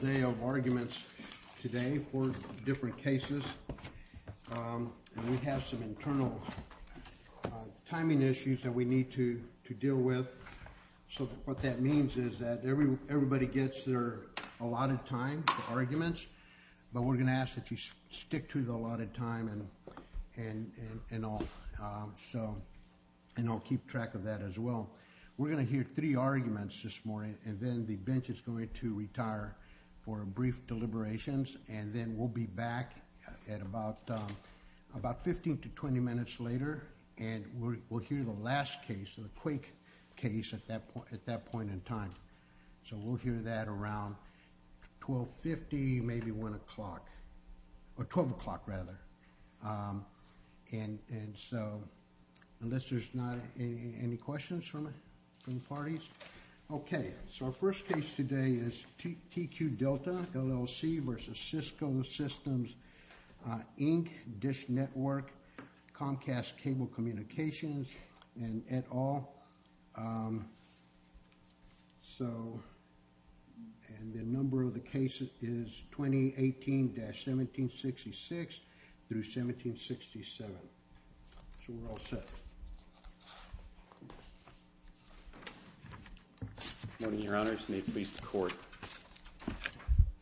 They have arguments today for different cases, and we have some internal timing issues that we need to deal with. So what that means is that everybody gets their allotted time for arguments, but we're going to ask that you stick to the allotted time and all, and I'll keep track of that as well. We're going to hear three arguments this morning, and then the bench is going to retire for brief deliberations, and then we'll be back at about 15 to 20 minutes later, and we'll hear the last case, the Quake case, at that point in time. So we'll hear that around 12.50, maybe 1 o'clock, or 12 o'clock, rather. And so, unless there's not any questions from the parties. Okay, so our first case today is TQ Delta, LLC v. Cisco Systems, Inc., Dish Network, Comcast Cable Communications, and et al. And the number of the cases is 2018-1766 through 1767. So we're all set. Good morning, Your Honors, and may it please the Court.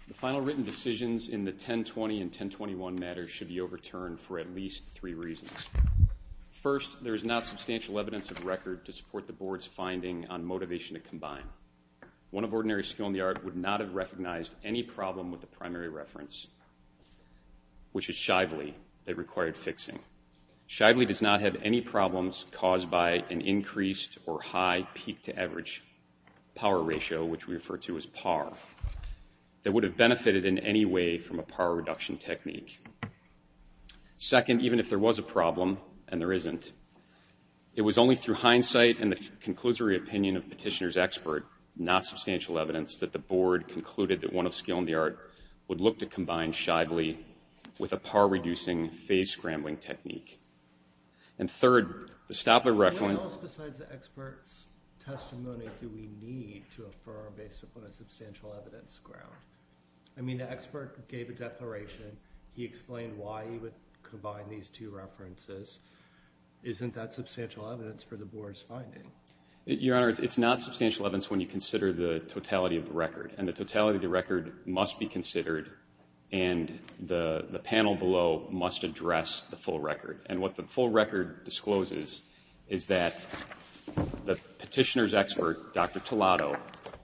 The final written decisions in the 1020 and 1021 matters should be overturned for at least three reasons. First, there is not substantial evidence of record to support the Board's finding on motivation to combine. One of ordinary skill in the art would not have recognized any problem with the primary reference, which is Shively, that required fixing. Shively does not have any problems caused by an increased or high peak-to-average power ratio, which we refer to as PAR, that would have benefited in any way from a PAR reduction technique. Second, even if there was a problem, and there isn't, it was only through hindsight and the conclusory opinion of Petitioner's expert, not substantial evidence, that the Board concluded that one of skill in the art would look to combine Shively with a PAR-reducing phase-scrambling technique. And third, to stop the reference... What else besides the expert's testimony do we need to affirm based upon a substantial evidence ground? I mean, the expert gave a declaration. He explained why he would combine these two references. Isn't that substantial evidence for the Board's finding? Your Honor, it's not substantial evidence when you consider the totality of the record, and the totality of the record must be considered, and the panel below must address the full record. And what the full record discloses is that the Petitioner's expert, Dr. Tolado,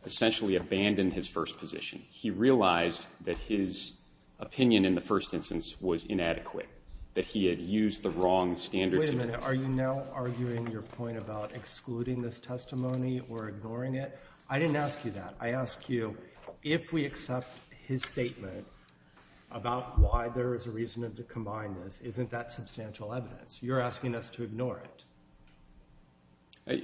essentially abandoned his first position. He realized that his opinion in the first instance was inadequate, that he had used the wrong standard... Wait a minute. Are you now arguing your point about excluding this testimony or ignoring it? I didn't ask you that. I ask you, if we accept his statement about why there is a reason to combine this, isn't that substantial evidence? You're asking us to ignore it.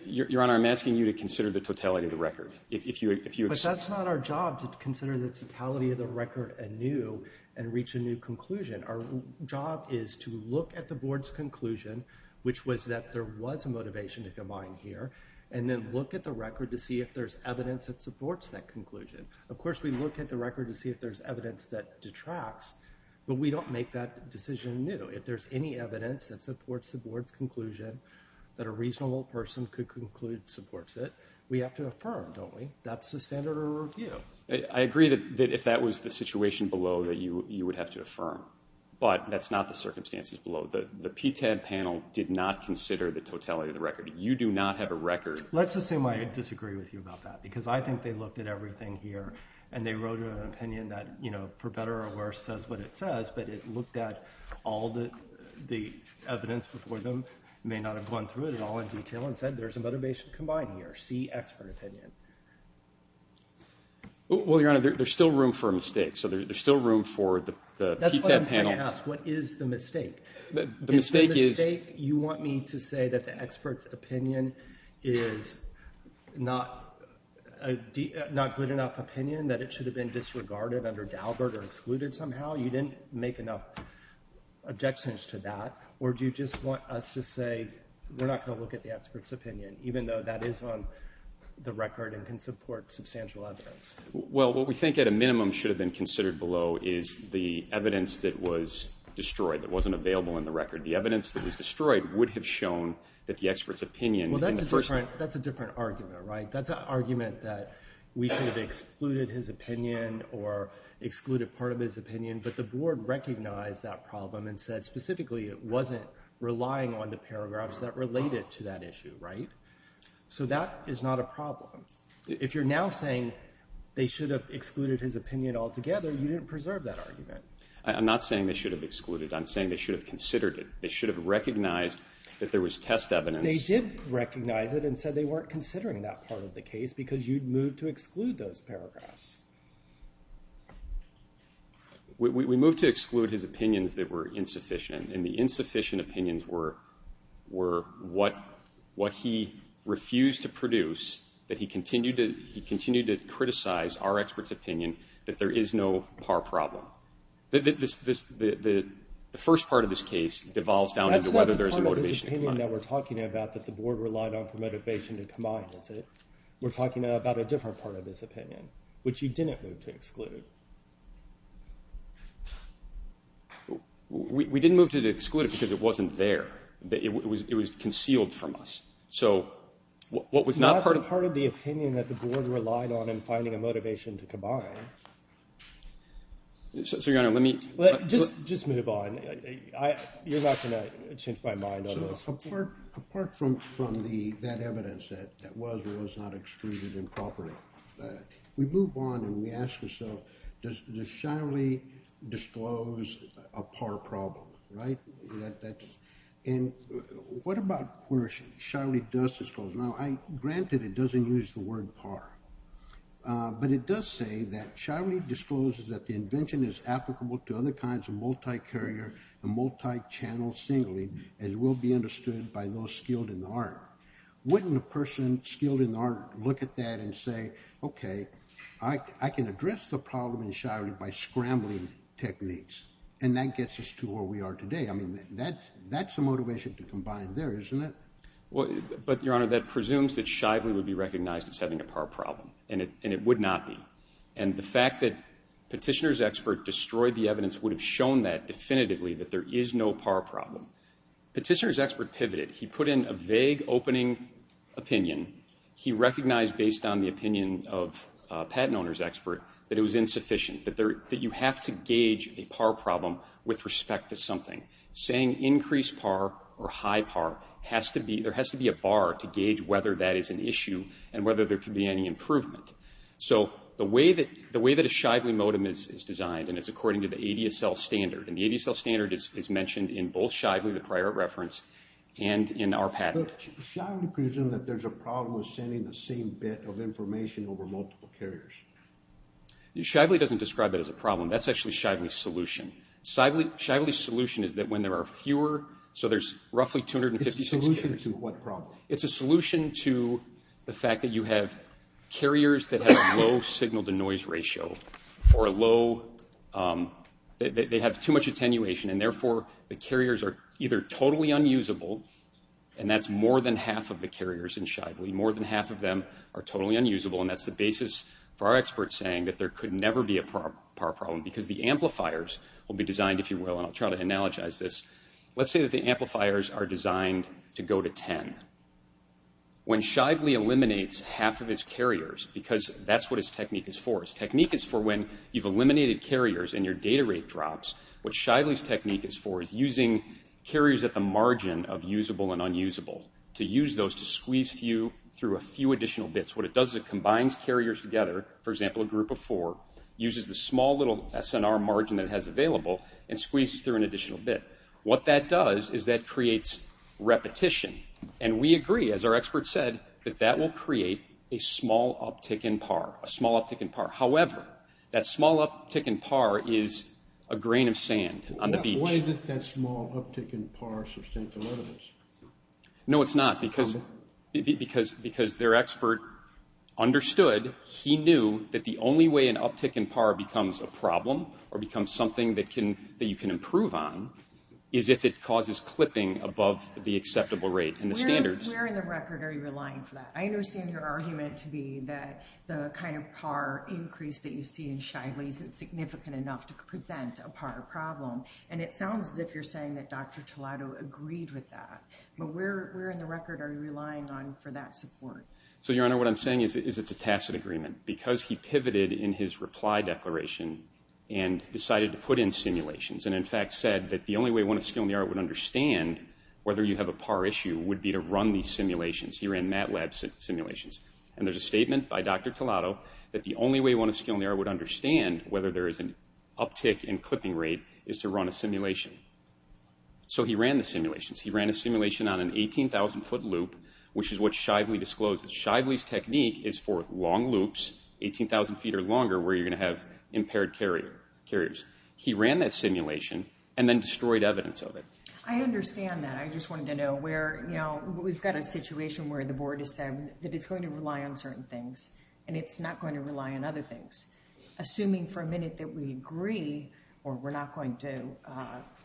Your Honor, I'm asking you to consider the totality of the record. But that's not our job, to consider the totality of the record anew and reach a new conclusion. Our job is to look at the Board's conclusion, which was that there was a motivation to combine here, and then look at the record to see if there's evidence that supports that conclusion. Of course, we look at the record to see if there's evidence that detracts, but we don't make that decision anew. If there's any evidence that supports the Board's conclusion, that a reasonable person could conclude supports it, we have to affirm, don't we? That's the standard of review. I agree that if that was the situation below, that you would have to affirm, but that's not the circumstances below. The PTAD panel did not consider the totality of the record. You do not have a record. Let's assume I disagree with you about that, because I think they looked at everything here, and they wrote an opinion that, for better or worse, says what it says, but it looked at all the evidence before them, may not have gone through it at all in detail, and said there's a motivation to combine here, see expert opinion. Well, Your Honor, there's still room for a mistake, so there's still room for the PTAD panel. That's what I'm trying to ask. What is the mistake? You want me to say that the expert's opinion is not good enough opinion, that it should have been disregarded under Daubert or excluded somehow? You didn't make enough objections to that. Or do you just want us to say we're not going to look at the expert's opinion, even though that is on the record and can support substantial evidence? Well, what we think at a minimum should have been considered below is the evidence that was destroyed, that wasn't available in the record. The evidence that was destroyed would have shown that the expert's opinion in the first… Well, that's a different argument, right? That's an argument that we should have excluded his opinion or excluded part of his opinion, but the Board recognized that problem and said specifically it wasn't relying on the paragraphs that related to that issue, right? So that is not a problem. If you're now saying they should have excluded his opinion altogether, you didn't preserve that argument. I'm not saying they should have excluded. I'm saying they should have considered it. They should have recognized that there was test evidence. They did recognize it and said they weren't considering that part of the case because you'd moved to exclude those paragraphs. We moved to exclude his opinions that were insufficient, and the insufficient opinions were what he refused to produce, that he continued to criticize our expert's opinion that there is no par problem. The first part of this case devolves down into whether there's a motivation to combine. That's not the part of his opinion that we're talking about that the Board relied on for motivation to combine, is it? We're talking about a different part of his opinion, which you didn't move to exclude. We didn't move to exclude it because it wasn't there. It was concealed from us. It's not part of the opinion that the Board relied on in finding a motivation to combine. Your Honor, let me – Just move on. You're not going to change my mind on this. Apart from that evidence that was or was not excluded improperly, if we move on and we ask ourselves, does Shiley disclose a par problem? And what about where Shiley does disclose? Now, granted, it doesn't use the word par, but it does say that Shiley discloses that the invention is applicable to other kinds of multi-carrier and multi-channel signaling, as will be understood by those skilled in the art. Wouldn't a person skilled in the art look at that and say, okay, I can address the problem in Shiley by scrambling techniques, and that gets us to where we are today? I mean, that's a motivation to combine there, isn't it? But, Your Honor, that presumes that Shiley would be recognized as having a par problem, and it would not be. And the fact that Petitioner's expert destroyed the evidence would have shown that definitively, that there is no par problem. Petitioner's expert pivoted. He put in a vague opening opinion. He recognized, based on the opinion of a patent owner's expert, that it was insufficient, that you have to gauge a par problem with respect to something. Saying increased par or high par has to be, there has to be a bar to gauge whether that is an issue and whether there could be any improvement. So the way that a Shively modem is designed, and it's according to the ADSL standard, and the ADSL standard is mentioned in both Shively, the prior reference, and in our patent. But Shively presumes that there's a problem with sending the same bit of information over multiple carriers. Shively doesn't describe it as a problem. That's actually Shively's solution. Shively's solution is that when there are fewer, so there's roughly 256 carriers. It's a solution to what problem? It's a solution to the fact that you have carriers that have a low signal-to-noise ratio or a low, they have too much attenuation, and therefore the carriers are either totally unusable, and that's more than half of the carriers in Shively. More than half of them are totally unusable, and that's the basis for our experts saying that there could never be a power problem because the amplifiers will be designed, if you will, and I'll try to analogize this. Let's say that the amplifiers are designed to go to 10. When Shively eliminates half of its carriers, because that's what its technique is for, its technique is for when you've eliminated carriers and your data rate drops, what Shively's technique is for is using carriers at the margin of usable and unusable to use those to squeeze through a few additional bits. What it does is it combines carriers together, for example, a group of four, uses the small little SNR margin that it has available, and squeezes through an additional bit. What that does is that creates repetition, and we agree, as our experts said, that that will create a small uptick in PAR, a small uptick in PAR. However, that small uptick in PAR is a grain of sand on the beach. Why did that small uptick in PAR sustain for a lot of us? No, it's not, because their expert understood, he knew that the only way an uptick in PAR becomes a problem or becomes something that you can improve on is if it causes clipping above the acceptable rate and the standards. Where in the record are you relying for that? I understand your argument to be that the kind of PAR increase that you see in Shively isn't significant enough to present a PAR problem, and it sounds as if you're saying that Dr. Tolado agreed with that, but where in the record are you relying on for that support? Your Honor, what I'm saying is it's a tacit agreement. Because he pivoted in his reply declaration and decided to put in simulations and, in fact, said that the only way one of skill in the art would understand whether you have a PAR issue would be to run these simulations, he ran MATLAB simulations, and there's a statement by Dr. Tolado that the only way one of skill in the art would understand whether there is an uptick in clipping rate is to run a simulation. So he ran the simulations. He ran a simulation on an 18,000-foot loop, which is what Shively disclosed. Shively's technique is for long loops, 18,000 feet or longer, where you're going to have impaired carriers. He ran that simulation and then destroyed evidence of it. I understand that. I just wanted to know where, you know, we've got a situation where the board has said that it's going to rely on certain things and it's not going to rely on other things. Assuming for a minute that we agree or we're not going to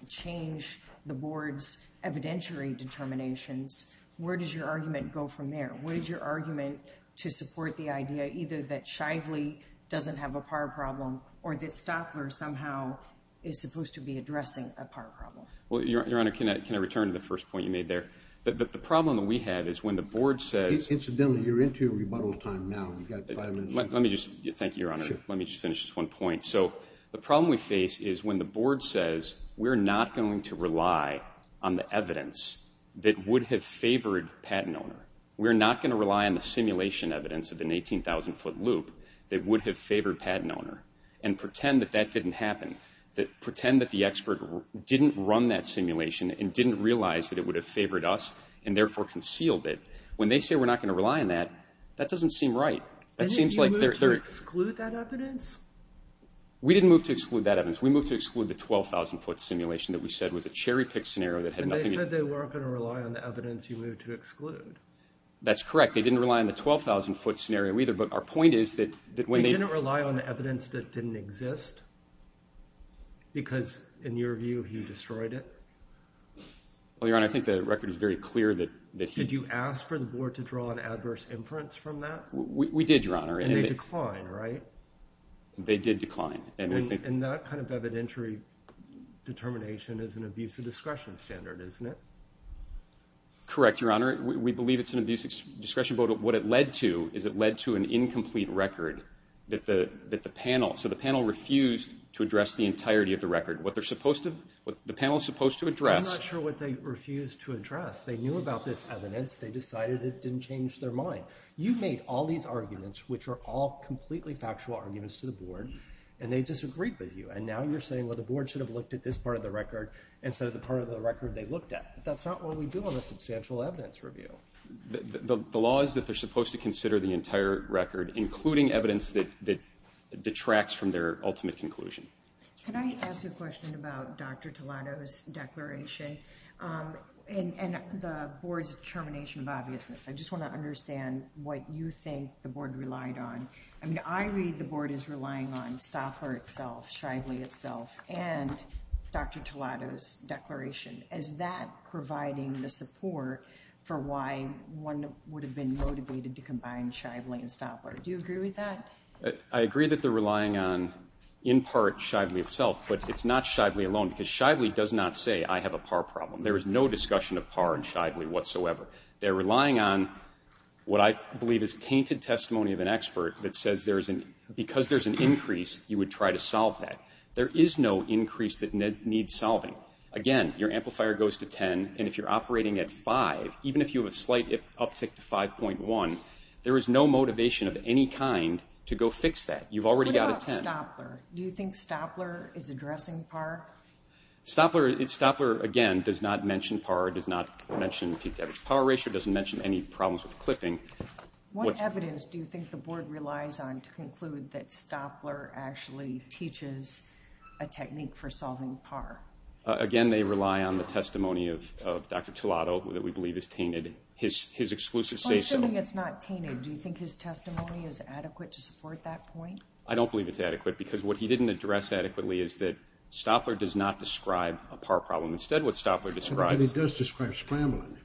change the board's evidentiary determinations, where does your argument go from there? Where is your argument to support the idea either that Shively doesn't have a PAR problem or that Stoffler somehow is supposed to be addressing a PAR problem? Well, Your Honor, can I return to the first point you made there? The problem that we have is when the board says— Incidentally, you're into your rebuttal time now. Thank you, Your Honor. Let me just finish this one point. So the problem we face is when the board says, we're not going to rely on the evidence that would have favored patent owner. We're not going to rely on the simulation evidence of an 18,000-foot loop that would have favored patent owner and pretend that that didn't happen, pretend that the expert didn't run that simulation and didn't realize that it would have favored us and therefore concealed it. When they say we're not going to rely on that, that doesn't seem right. Didn't you move to exclude that evidence? We didn't move to exclude that evidence. We moved to exclude the 12,000-foot simulation that we said was a cherry-picked scenario that had nothing to do— And they said they weren't going to rely on the evidence you moved to exclude. That's correct. They didn't rely on the 12,000-foot scenario either, but our point is that when they— They didn't rely on the evidence that didn't exist? Because, in your view, you destroyed it? Well, Your Honor, I think the record is very clear that— Did you ask for the board to draw an adverse inference from that? We did, Your Honor. And they declined, right? They did decline. And that kind of evidentiary determination is an abusive discretion standard, isn't it? Correct, Your Honor. We believe it's an abusive discretion, but what it led to is it led to an incomplete record that the panel— So the panel refused to address the entirety of the record. What they're supposed to— What the panel is supposed to address— I'm not sure what they refused to address. They knew about this evidence. They decided it didn't change their mind. You made all these arguments, which are all completely factual arguments to the board, and they disagreed with you. And now you're saying, well, the board should have looked at this part of the record instead of the part of the record they looked at. That's not what we do on a substantial evidence review. The law is that they're supposed to consider the entire record, including evidence that detracts from their ultimate conclusion. Can I ask you a question about Dr. Toledo's declaration? And the board's determination of obviousness. I just want to understand what you think the board relied on. I mean, I read the board as relying on Stopler itself, Shively itself, and Dr. Toledo's declaration. Is that providing the support for why one would have been motivated to combine Shively and Stopler? Do you agree with that? I agree that they're relying on, in part, Shively itself, but it's not Shively alone, because Shively does not say I have a PAR problem. There is no discussion of PAR in Shively whatsoever. They're relying on what I believe is tainted testimony of an expert that says because there's an increase, you would try to solve that. There is no increase that needs solving. Again, your amplifier goes to 10, and if you're operating at 5, even if you have a slight uptick to 5.1, there is no motivation of any kind to go fix that. You've already got a 10. What about Stopler? Do you think Stopler is addressing PAR? Stopler, again, does not mention PAR, does not mention peak-to-average power ratio, doesn't mention any problems with clipping. What evidence do you think the board relies on to conclude that Stopler actually teaches a technique for solving PAR? Again, they rely on the testimony of Dr. Toledo that we believe is tainted, his exclusive say so. Assuming it's not tainted, do you think his testimony is adequate to support that point? I don't believe it's adequate because what he didn't address adequately is that Stopler does not describe a PAR problem. Instead, what Stopler describes… But he does describe scrambling.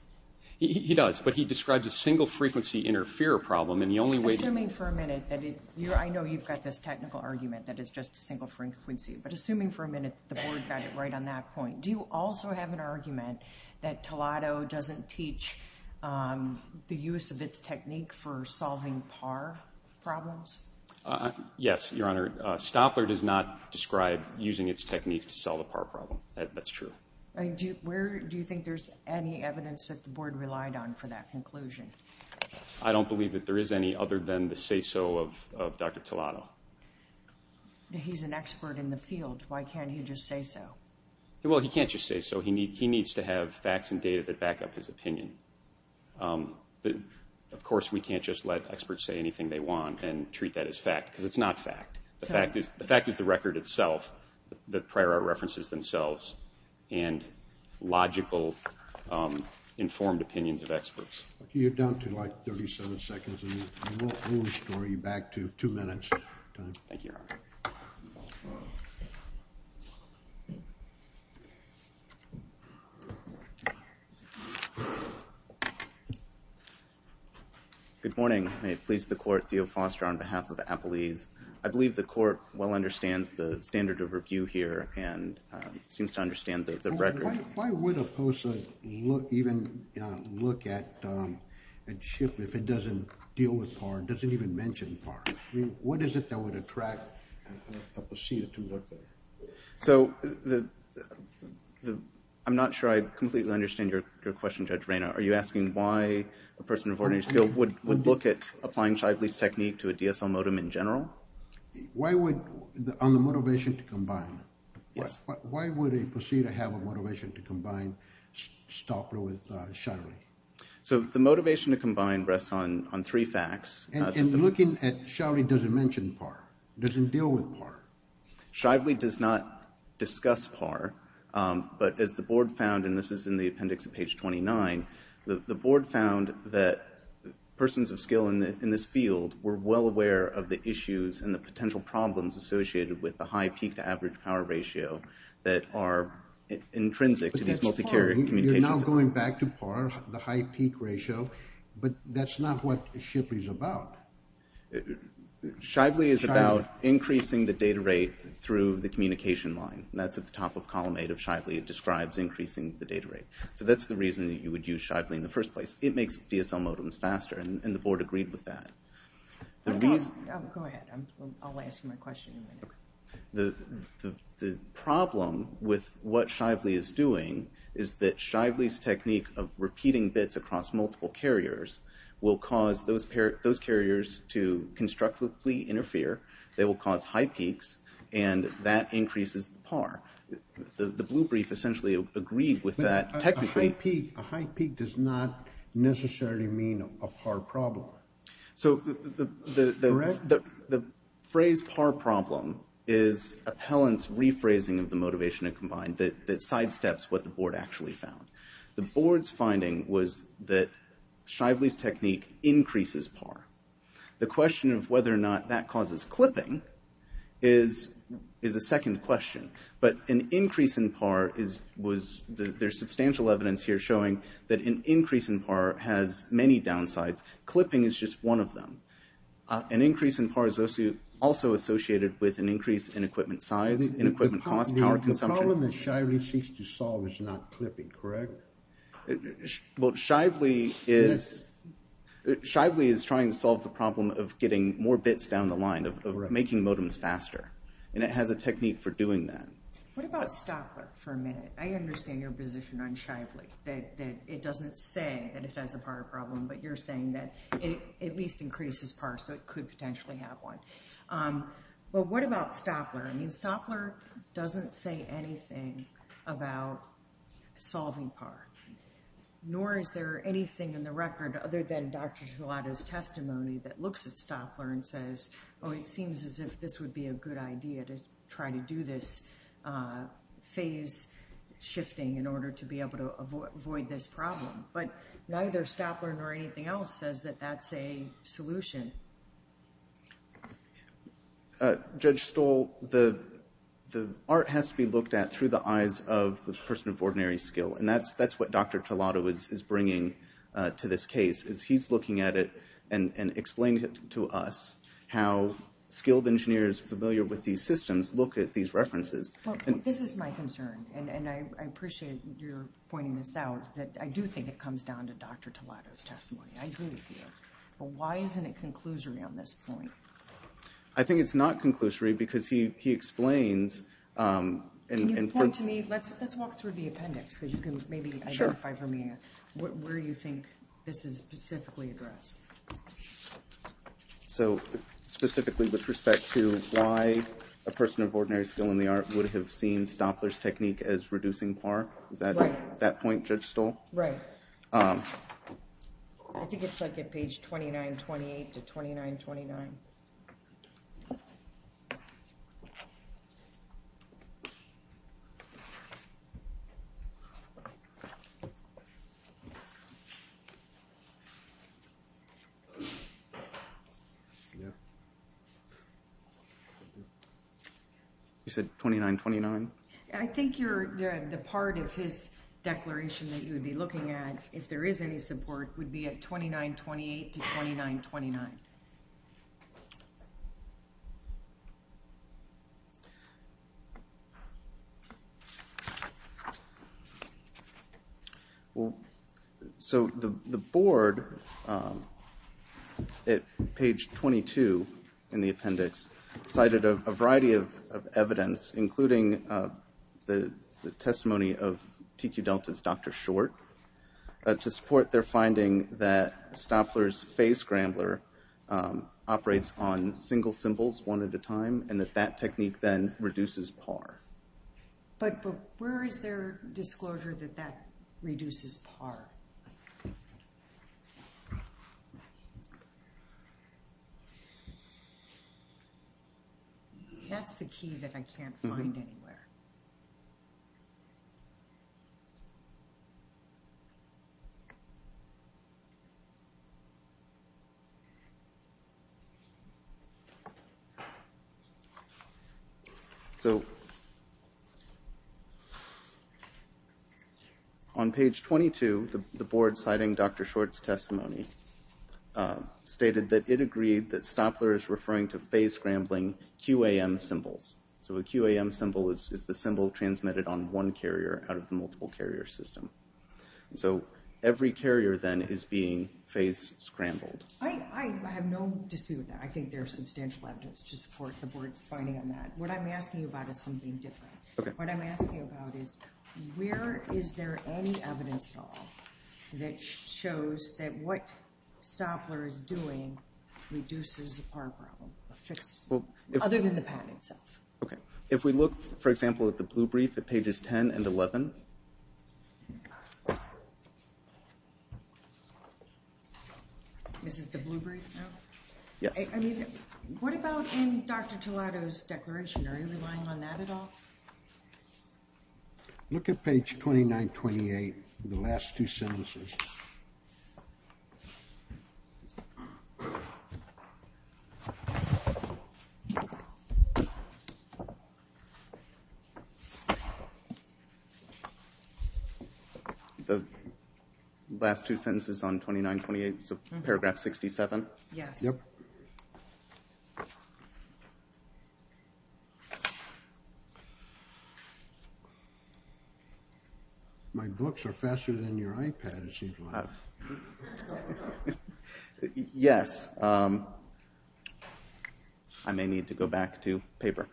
He does, but he describes a single-frequency interfere problem, and the only way… Assuming for a minute that it… I know you've got this technical argument that it's just a single frequency, but assuming for a minute the board got it right on that point, do you also have an argument that Toledo doesn't teach the use of its technique for solving PAR problems? Yes, Your Honor. Stopler does not describe using its techniques to solve a PAR problem. That's true. Do you think there's any evidence that the board relied on for that conclusion? I don't believe that there is any other than the say so of Dr. Toledo. He's an expert in the field. Why can't he just say so? Well, he can't just say so. He needs to have facts and data that back up his opinion. Of course, we can't just let experts say anything they want and treat that as fact, because it's not fact. The fact is the record itself, the prior art references themselves, and logical, informed opinions of experts. You're down to, like, 37 seconds, and we'll restore you back to two minutes. Thank you, Your Honor. Good morning. May it please the court, Theo Foster on behalf of Appalese. I believe the court well understands the standard of review here and seems to understand the record. Why would a POSA even look at a chip if it doesn't deal with PAR, doesn't even mention PAR? I mean, what is it that would attract a POSA to look at it? So I'm not sure I completely understand your question, Judge Reina. Are you asking why a person of ordinary skill would look at applying Shively's technique to a DSL modem in general? Why would, on the motivation to combine. Yes. Why would a POSA have a motivation to combine Stopler with Shively? So the motivation to combine rests on three facts. And looking at Shively, does it mention PAR? Does it deal with PAR? Shively does not discuss PAR, but as the board found, and this is in the appendix at page 29, the board found that persons of skill in this field were well aware of the issues and the potential problems associated with the high peak to average power ratio that are intrinsic to these multi-carrier communications. But that's PAR. You're now going back to PAR, the high peak ratio, but that's not what Shively is about. Shively is about increasing the data rate through the communication line. That's at the top of column eight of Shively. It describes increasing the data rate. So that's the reason that you would use Shively in the first place. It makes DSL modems faster, and the board agreed with that. Go ahead. I'll ask my question in a minute. The problem with what Shively is doing is that Shively's technique of multiple carriers will cause those carriers to constructively interfere. They will cause high peaks, and that increases the PAR. The blue brief essentially agreed with that technically. A high peak does not necessarily mean a PAR problem. So the phrase PAR problem is appellant's rephrasing of the motivation to combine that sidesteps what the board actually found. The board's finding was that Shively's technique increases PAR. The question of whether or not that causes clipping is a second question. But an increase in PAR, there's substantial evidence here showing that an increase in PAR has many downsides. Clipping is just one of them. An increase in PAR is also associated with an increase in equipment size, in equipment cost, power consumption. The problem that Shively seeks to solve is not clipping, correct? Shively is trying to solve the problem of getting more bits down the line, of making modems faster, and it has a technique for doing that. What about Stopler for a minute? I understand your position on Shively, that it doesn't say that it has a PAR problem, but you're saying that it at least increases PAR so it could potentially have one. But what about Stopler? I mean, Stopler doesn't say anything about solving PAR, nor is there anything in the record other than Dr. Gelato's testimony that looks at Stopler and says, oh, it seems as if this would be a good idea to try to do this phase shifting in order to be able to avoid this problem. But neither Stopler nor anything else says that that's a solution. Judge Stoll, the art has to be looked at through the eyes of the person of ordinary skill, and that's what Dr. Gelato is bringing to this case, is he's looking at it and explaining to us how skilled engineers familiar with these systems look at these references. This is my concern, and I appreciate your pointing this out, that I do think it comes down to Dr. Gelato's testimony. I agree with you. But why isn't it conclusory on this point? I think it's not conclusory because he explains... Can you point to me... let's walk through the appendix, because you can maybe identify for me where you think this is specifically addressed. So specifically with respect to why a person of ordinary skill in the art would have seen Stopler's technique as reducing PAR? Right. Is that point Judge Stoll? Right. I think it's like at page 2928 to 2929. You said 2929? I think the part of his declaration that you would be looking at, if there is any support, would be at 2928 to 2929. So the board at page 22 in the appendix cited a variety of evidence, including the testimony of TQ Delta's Dr. Short, to support their finding that Stopler's phase scrambler operates on single symbols one at a time, and that that technique then reduces PAR. But where is their disclosure that that reduces PAR? That's the key that I can't find anywhere. So on page 22, the board at page 22 in the appendix, the board citing Dr. Short's testimony, stated that it agreed that Stopler is referring to phase scrambling QAM symbols. So a QAM symbol is the symbol transmitted on one carrier out of the multiple carrier system. So every carrier then is being phase scrambled. I have no dispute with that. I think there's substantial evidence to support the board's finding on that. What I'm asking you about is something different. What I'm asking you about is, where is there any evidence at all that shows that what Stopler is doing reduces the PAR problem, other than the patent itself? Okay. If we look, for example, at the blue brief at pages 10 and 11. This is the blue brief now? Yes. I mean, what about in Dr. Tolado's declaration? Are you relying on that at all? Look at page 2928, the last two sentences. The last two sentences on 2928, so paragraph 67? Yes. Yep. My books are faster than your iPad, as usual. Yes. I may need to go back to paper.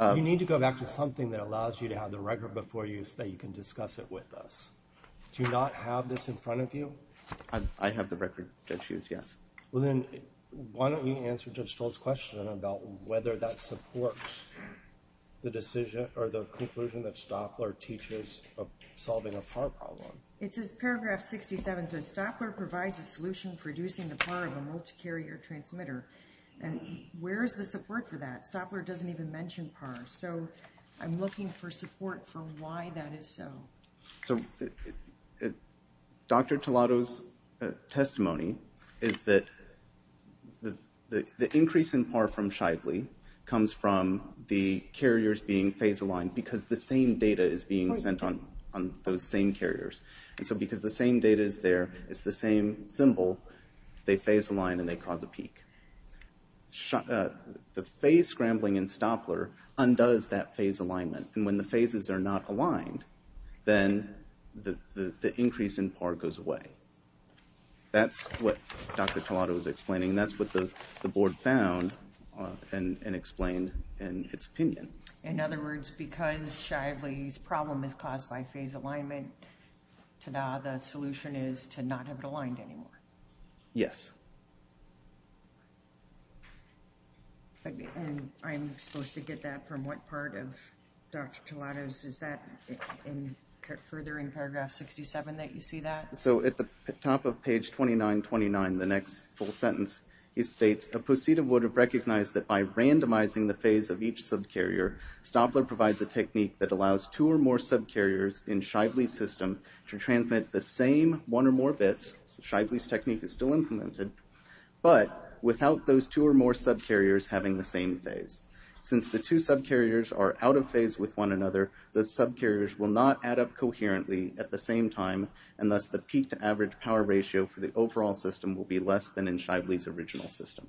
You need to go back to something that allows you to have the record before you so that you can discuss it with us. Do you not have this in front of you? I have the record, Judge Hughes, yes. Well then, why don't you answer Judge Stoll's question about whether that supports the conclusion that Stopler teaches of solving a PAR problem. It says paragraph 67 says, Stopler provides a solution for reducing the PAR of a multi-carrier transmitter. Where is the support for that? Stopler doesn't even mention PAR. So I'm looking for support for why that is so. So Dr. Tellato's testimony is that the increase in PAR from Shively comes from the carriers being phase aligned because the same data is being sent on those same carriers. So because the same data is there, it's the same symbol, they phase align and they cause a peak. The phase scrambling in Stopler undoes that phase alignment. And when the phases are not aligned, then the increase in PAR goes away. That's what Dr. Tellato was explaining. That's what the board found and explained in its opinion. In other words, because Shively's problem is caused by phase alignment, the solution is to not have it aligned anymore. Yes. And I'm supposed to get that from what part of Dr. Tellato's? Is that further in paragraph 67 that you see that? So at the top of page 2929, the next full sentence, it states a proceed would have recognized that by randomizing the phase of each subcarrier, Stopler provides a technique that allows two or more subcarriers in Shively's system to transmit the same one or more bits. Shively's technique is still implemented, but without those two or more subcarriers having the same phase. Since the two subcarriers are out of phase with one another, the subcarriers will not add up coherently at the same time, and thus the peak to average power ratio for the overall system will be less than in Shively's original system.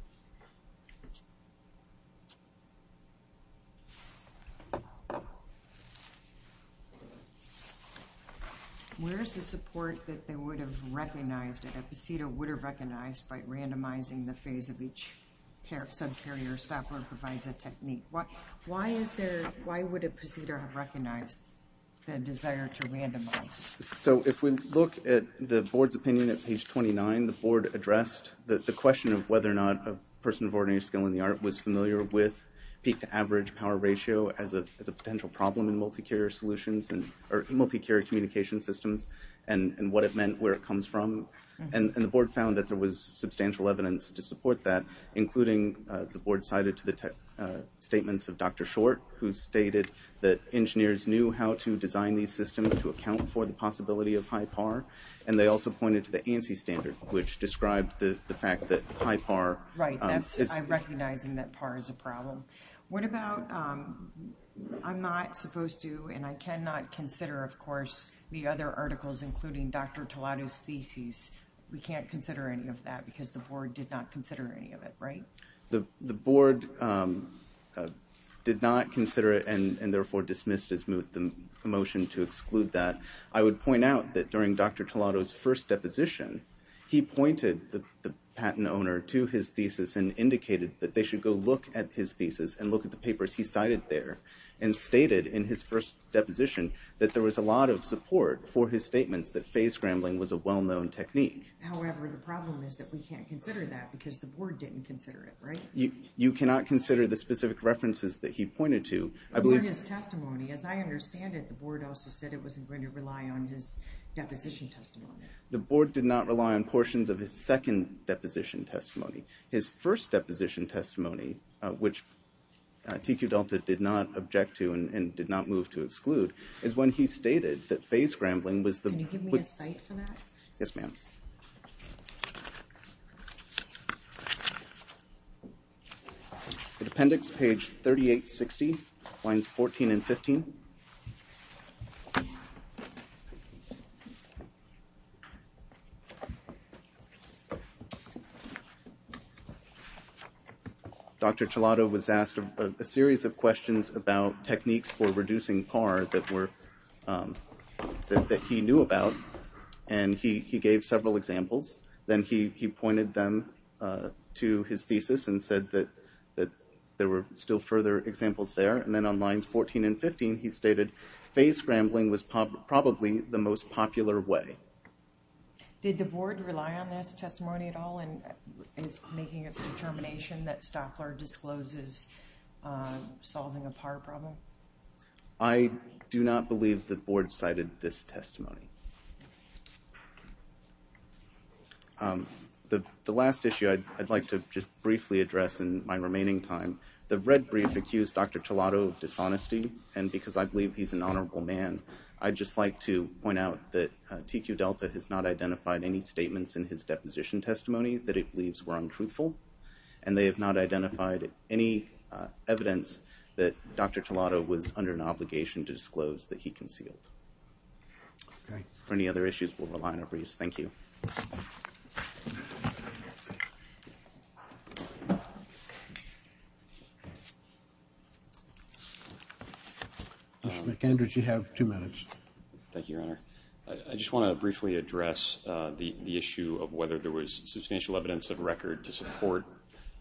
Where is the support that they would have recognized that a proceeder would have recognized by randomizing the phase of each subcarrier Stopler provides a technique? Why is there, why would a proceeder have recognized the desire to randomize? So if we look at the board's opinion at page 29, the board addressed the question of whether or not a person of ordinary skill in the art was familiar with peak to average power ratio as a potential problem in multi-carrier solutions, or multi-carrier communication systems, and what it meant, where it comes from. And the board found that there was substantial evidence to support that, including the board cited to the statements of Dr. Short, who stated that engineers knew how to design these systems to account for the possibility of high par, and they also pointed to the ANSI standard, which described the fact that high par. Right, I recognize that par is a problem. What about, I'm not supposed to, and I cannot consider, of course, the other articles, including Dr. Tolado's thesis. We can't consider any of that, because the board did not consider any of it, right? The board did not consider it, and therefore dismissed the motion to exclude that. I would point out that during Dr. Tolado's first deposition, he pointed the patent owner to his thesis and indicated that they should go look at his thesis and look at the papers he cited there, and stated in his first deposition that there was a lot of support for his statements that phase scrambling was a well-known technique. However, the problem is that we can't consider that, because the board didn't consider it, right? You cannot consider the specific references that he pointed to. And his testimony, as I understand it, the board also said it wasn't going to rely on his deposition testimony. The board did not rely on portions of his second deposition testimony. His first deposition testimony, which TQ Delta did not object to and did not move to exclude, is when he stated that phase scrambling was the... Can you give me a cite for that? Yes, ma'am. Thank you. Appendix page 3860, lines 14 and 15. Dr. Tolado was asked a series of questions about techniques for reducing PAR that he knew about, and he gave several examples. Then he pointed them to his thesis and said that there were still further examples there. And then on lines 14 and 15, he stated, phase scrambling was probably the most popular way. Did the board rely on this testimony at all in making its determination that Stockler discloses solving a PAR problem? I do not believe the board cited this testimony. The last issue I'd like to just briefly address in my remaining time, the red brief accused Dr. Tolado of dishonesty, and because I believe he's an honorable man, I'd just like to point out that TQ Delta has not identified any statements in his deposition testimony that it believes were untruthful, and they have not identified any evidence that Dr. Tolado was under an obligation to disclose that he concealed. Okay. For any other issues, we'll rely on our briefs. Thank you. Mr. McAndrews, you have two minutes. Thank you, Your Honor. I just want to briefly address the issue of whether there was substantial evidence of record to support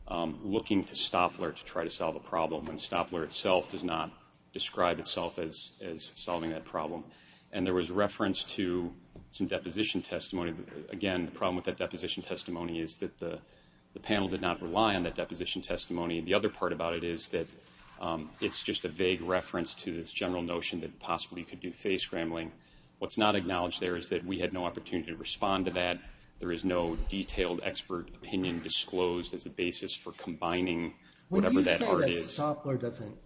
looking to Stockler to try to solve a problem when Stockler itself does not describe itself as solving that problem. And there was reference to some deposition testimony. Again, the problem with that deposition testimony is that the panel did not rely on that deposition testimony. The other part about it is that it's just a vague reference to this general notion that possibly you could do phase scrambling. What's not acknowledged there is that we had no opportunity to respond to that. There is no detailed expert opinion disclosed as a basis for combining whatever that part is. When you say that Stockler doesn't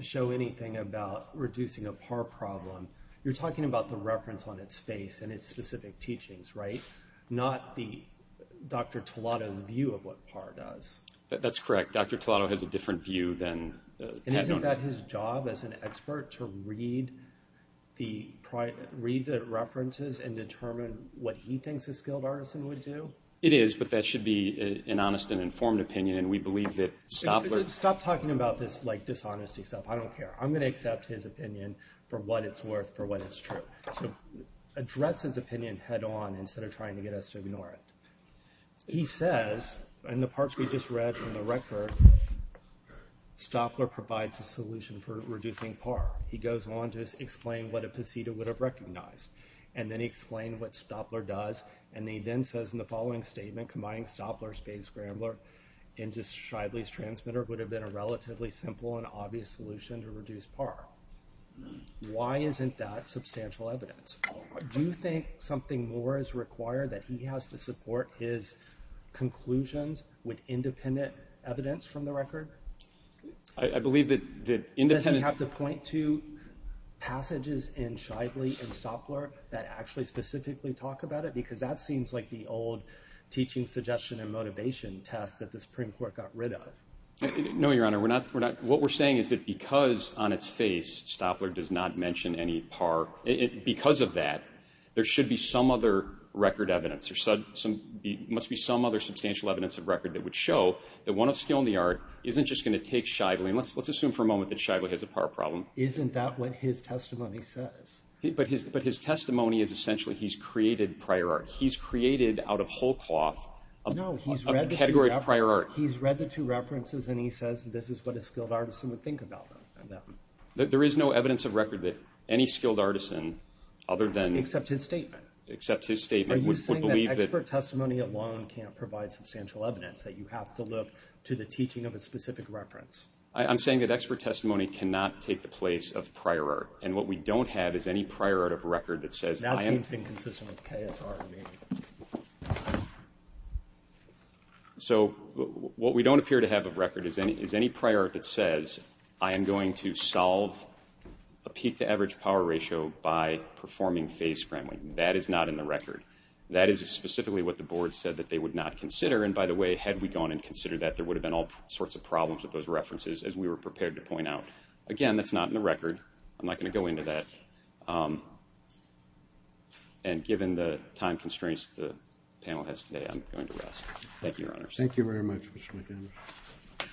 show anything about reducing a PAR problem, you're talking about the reference on its face and its specific teachings, right? Not Dr. Tolado's view of what PAR does. That's correct. Dr. Tolado has a different view than the panel. And isn't that his job as an expert to read the references and determine what he thinks a skilled artisan would do? It is, but that should be an honest and informed opinion, and we believe that Stockler... Stop talking about this dishonesty stuff. I don't care. I'm going to accept his opinion for what it's worth, for what is true. So address his opinion head-on instead of trying to get us to ignore it. He says, in the parts we just read from the record, Stockler provides a solution for reducing PAR. He goes on to explain what a PCETA would have recognized. And then he explains what Stockler does, and he then says in the following statement, combining Stockler's Fade Scrambler and just Shibley's Transmitter would have been a relatively simple and obvious solution to reduce PAR. Why isn't that substantial evidence? Do you think something more is required, that he has to support his conclusions with independent evidence from the record? I believe that independent... Do you point to passages in Shibley and Stockler that actually specifically talk about it? Because that seems like the old teaching suggestion and motivation test that the Supreme Court got rid of. No, Your Honor. What we're saying is that because on its face Stockler does not mention any PAR, because of that, there should be some other record evidence. There must be some other substantial evidence of record that would show that one of skill in the art isn't just going to take Shibley. Let's assume for a moment that Shibley has a PAR problem. Isn't that what his testimony says? But his testimony is essentially he's created prior art. He's created out of whole cloth a category of prior art. No, he's read the two references, and he says this is what a skilled artisan would think about them. There is no evidence of record that any skilled artisan other than... Except his statement. Except his statement would believe that... Are you saying that expert testimony alone can't provide substantial evidence, that you have to look to the teaching of a specific reference? I'm saying that expert testimony cannot take the place of prior art, and what we don't have is any prior art of record that says I am... That seems inconsistent with KSR to me. So what we don't appear to have of record is any prior art that says I am going to solve a peak-to-average power ratio by performing phase scrambling. That is not in the record. That is specifically what the Board said that they would not consider, and, by the way, had we gone and considered that, there would have been all sorts of problems with those references, as we were prepared to point out. Again, that's not in the record. I'm not going to go into that. And given the time constraints the panel has today, I'm going to rest. Thank you, Your Honors. Thank you very much, Mr. McGinnis.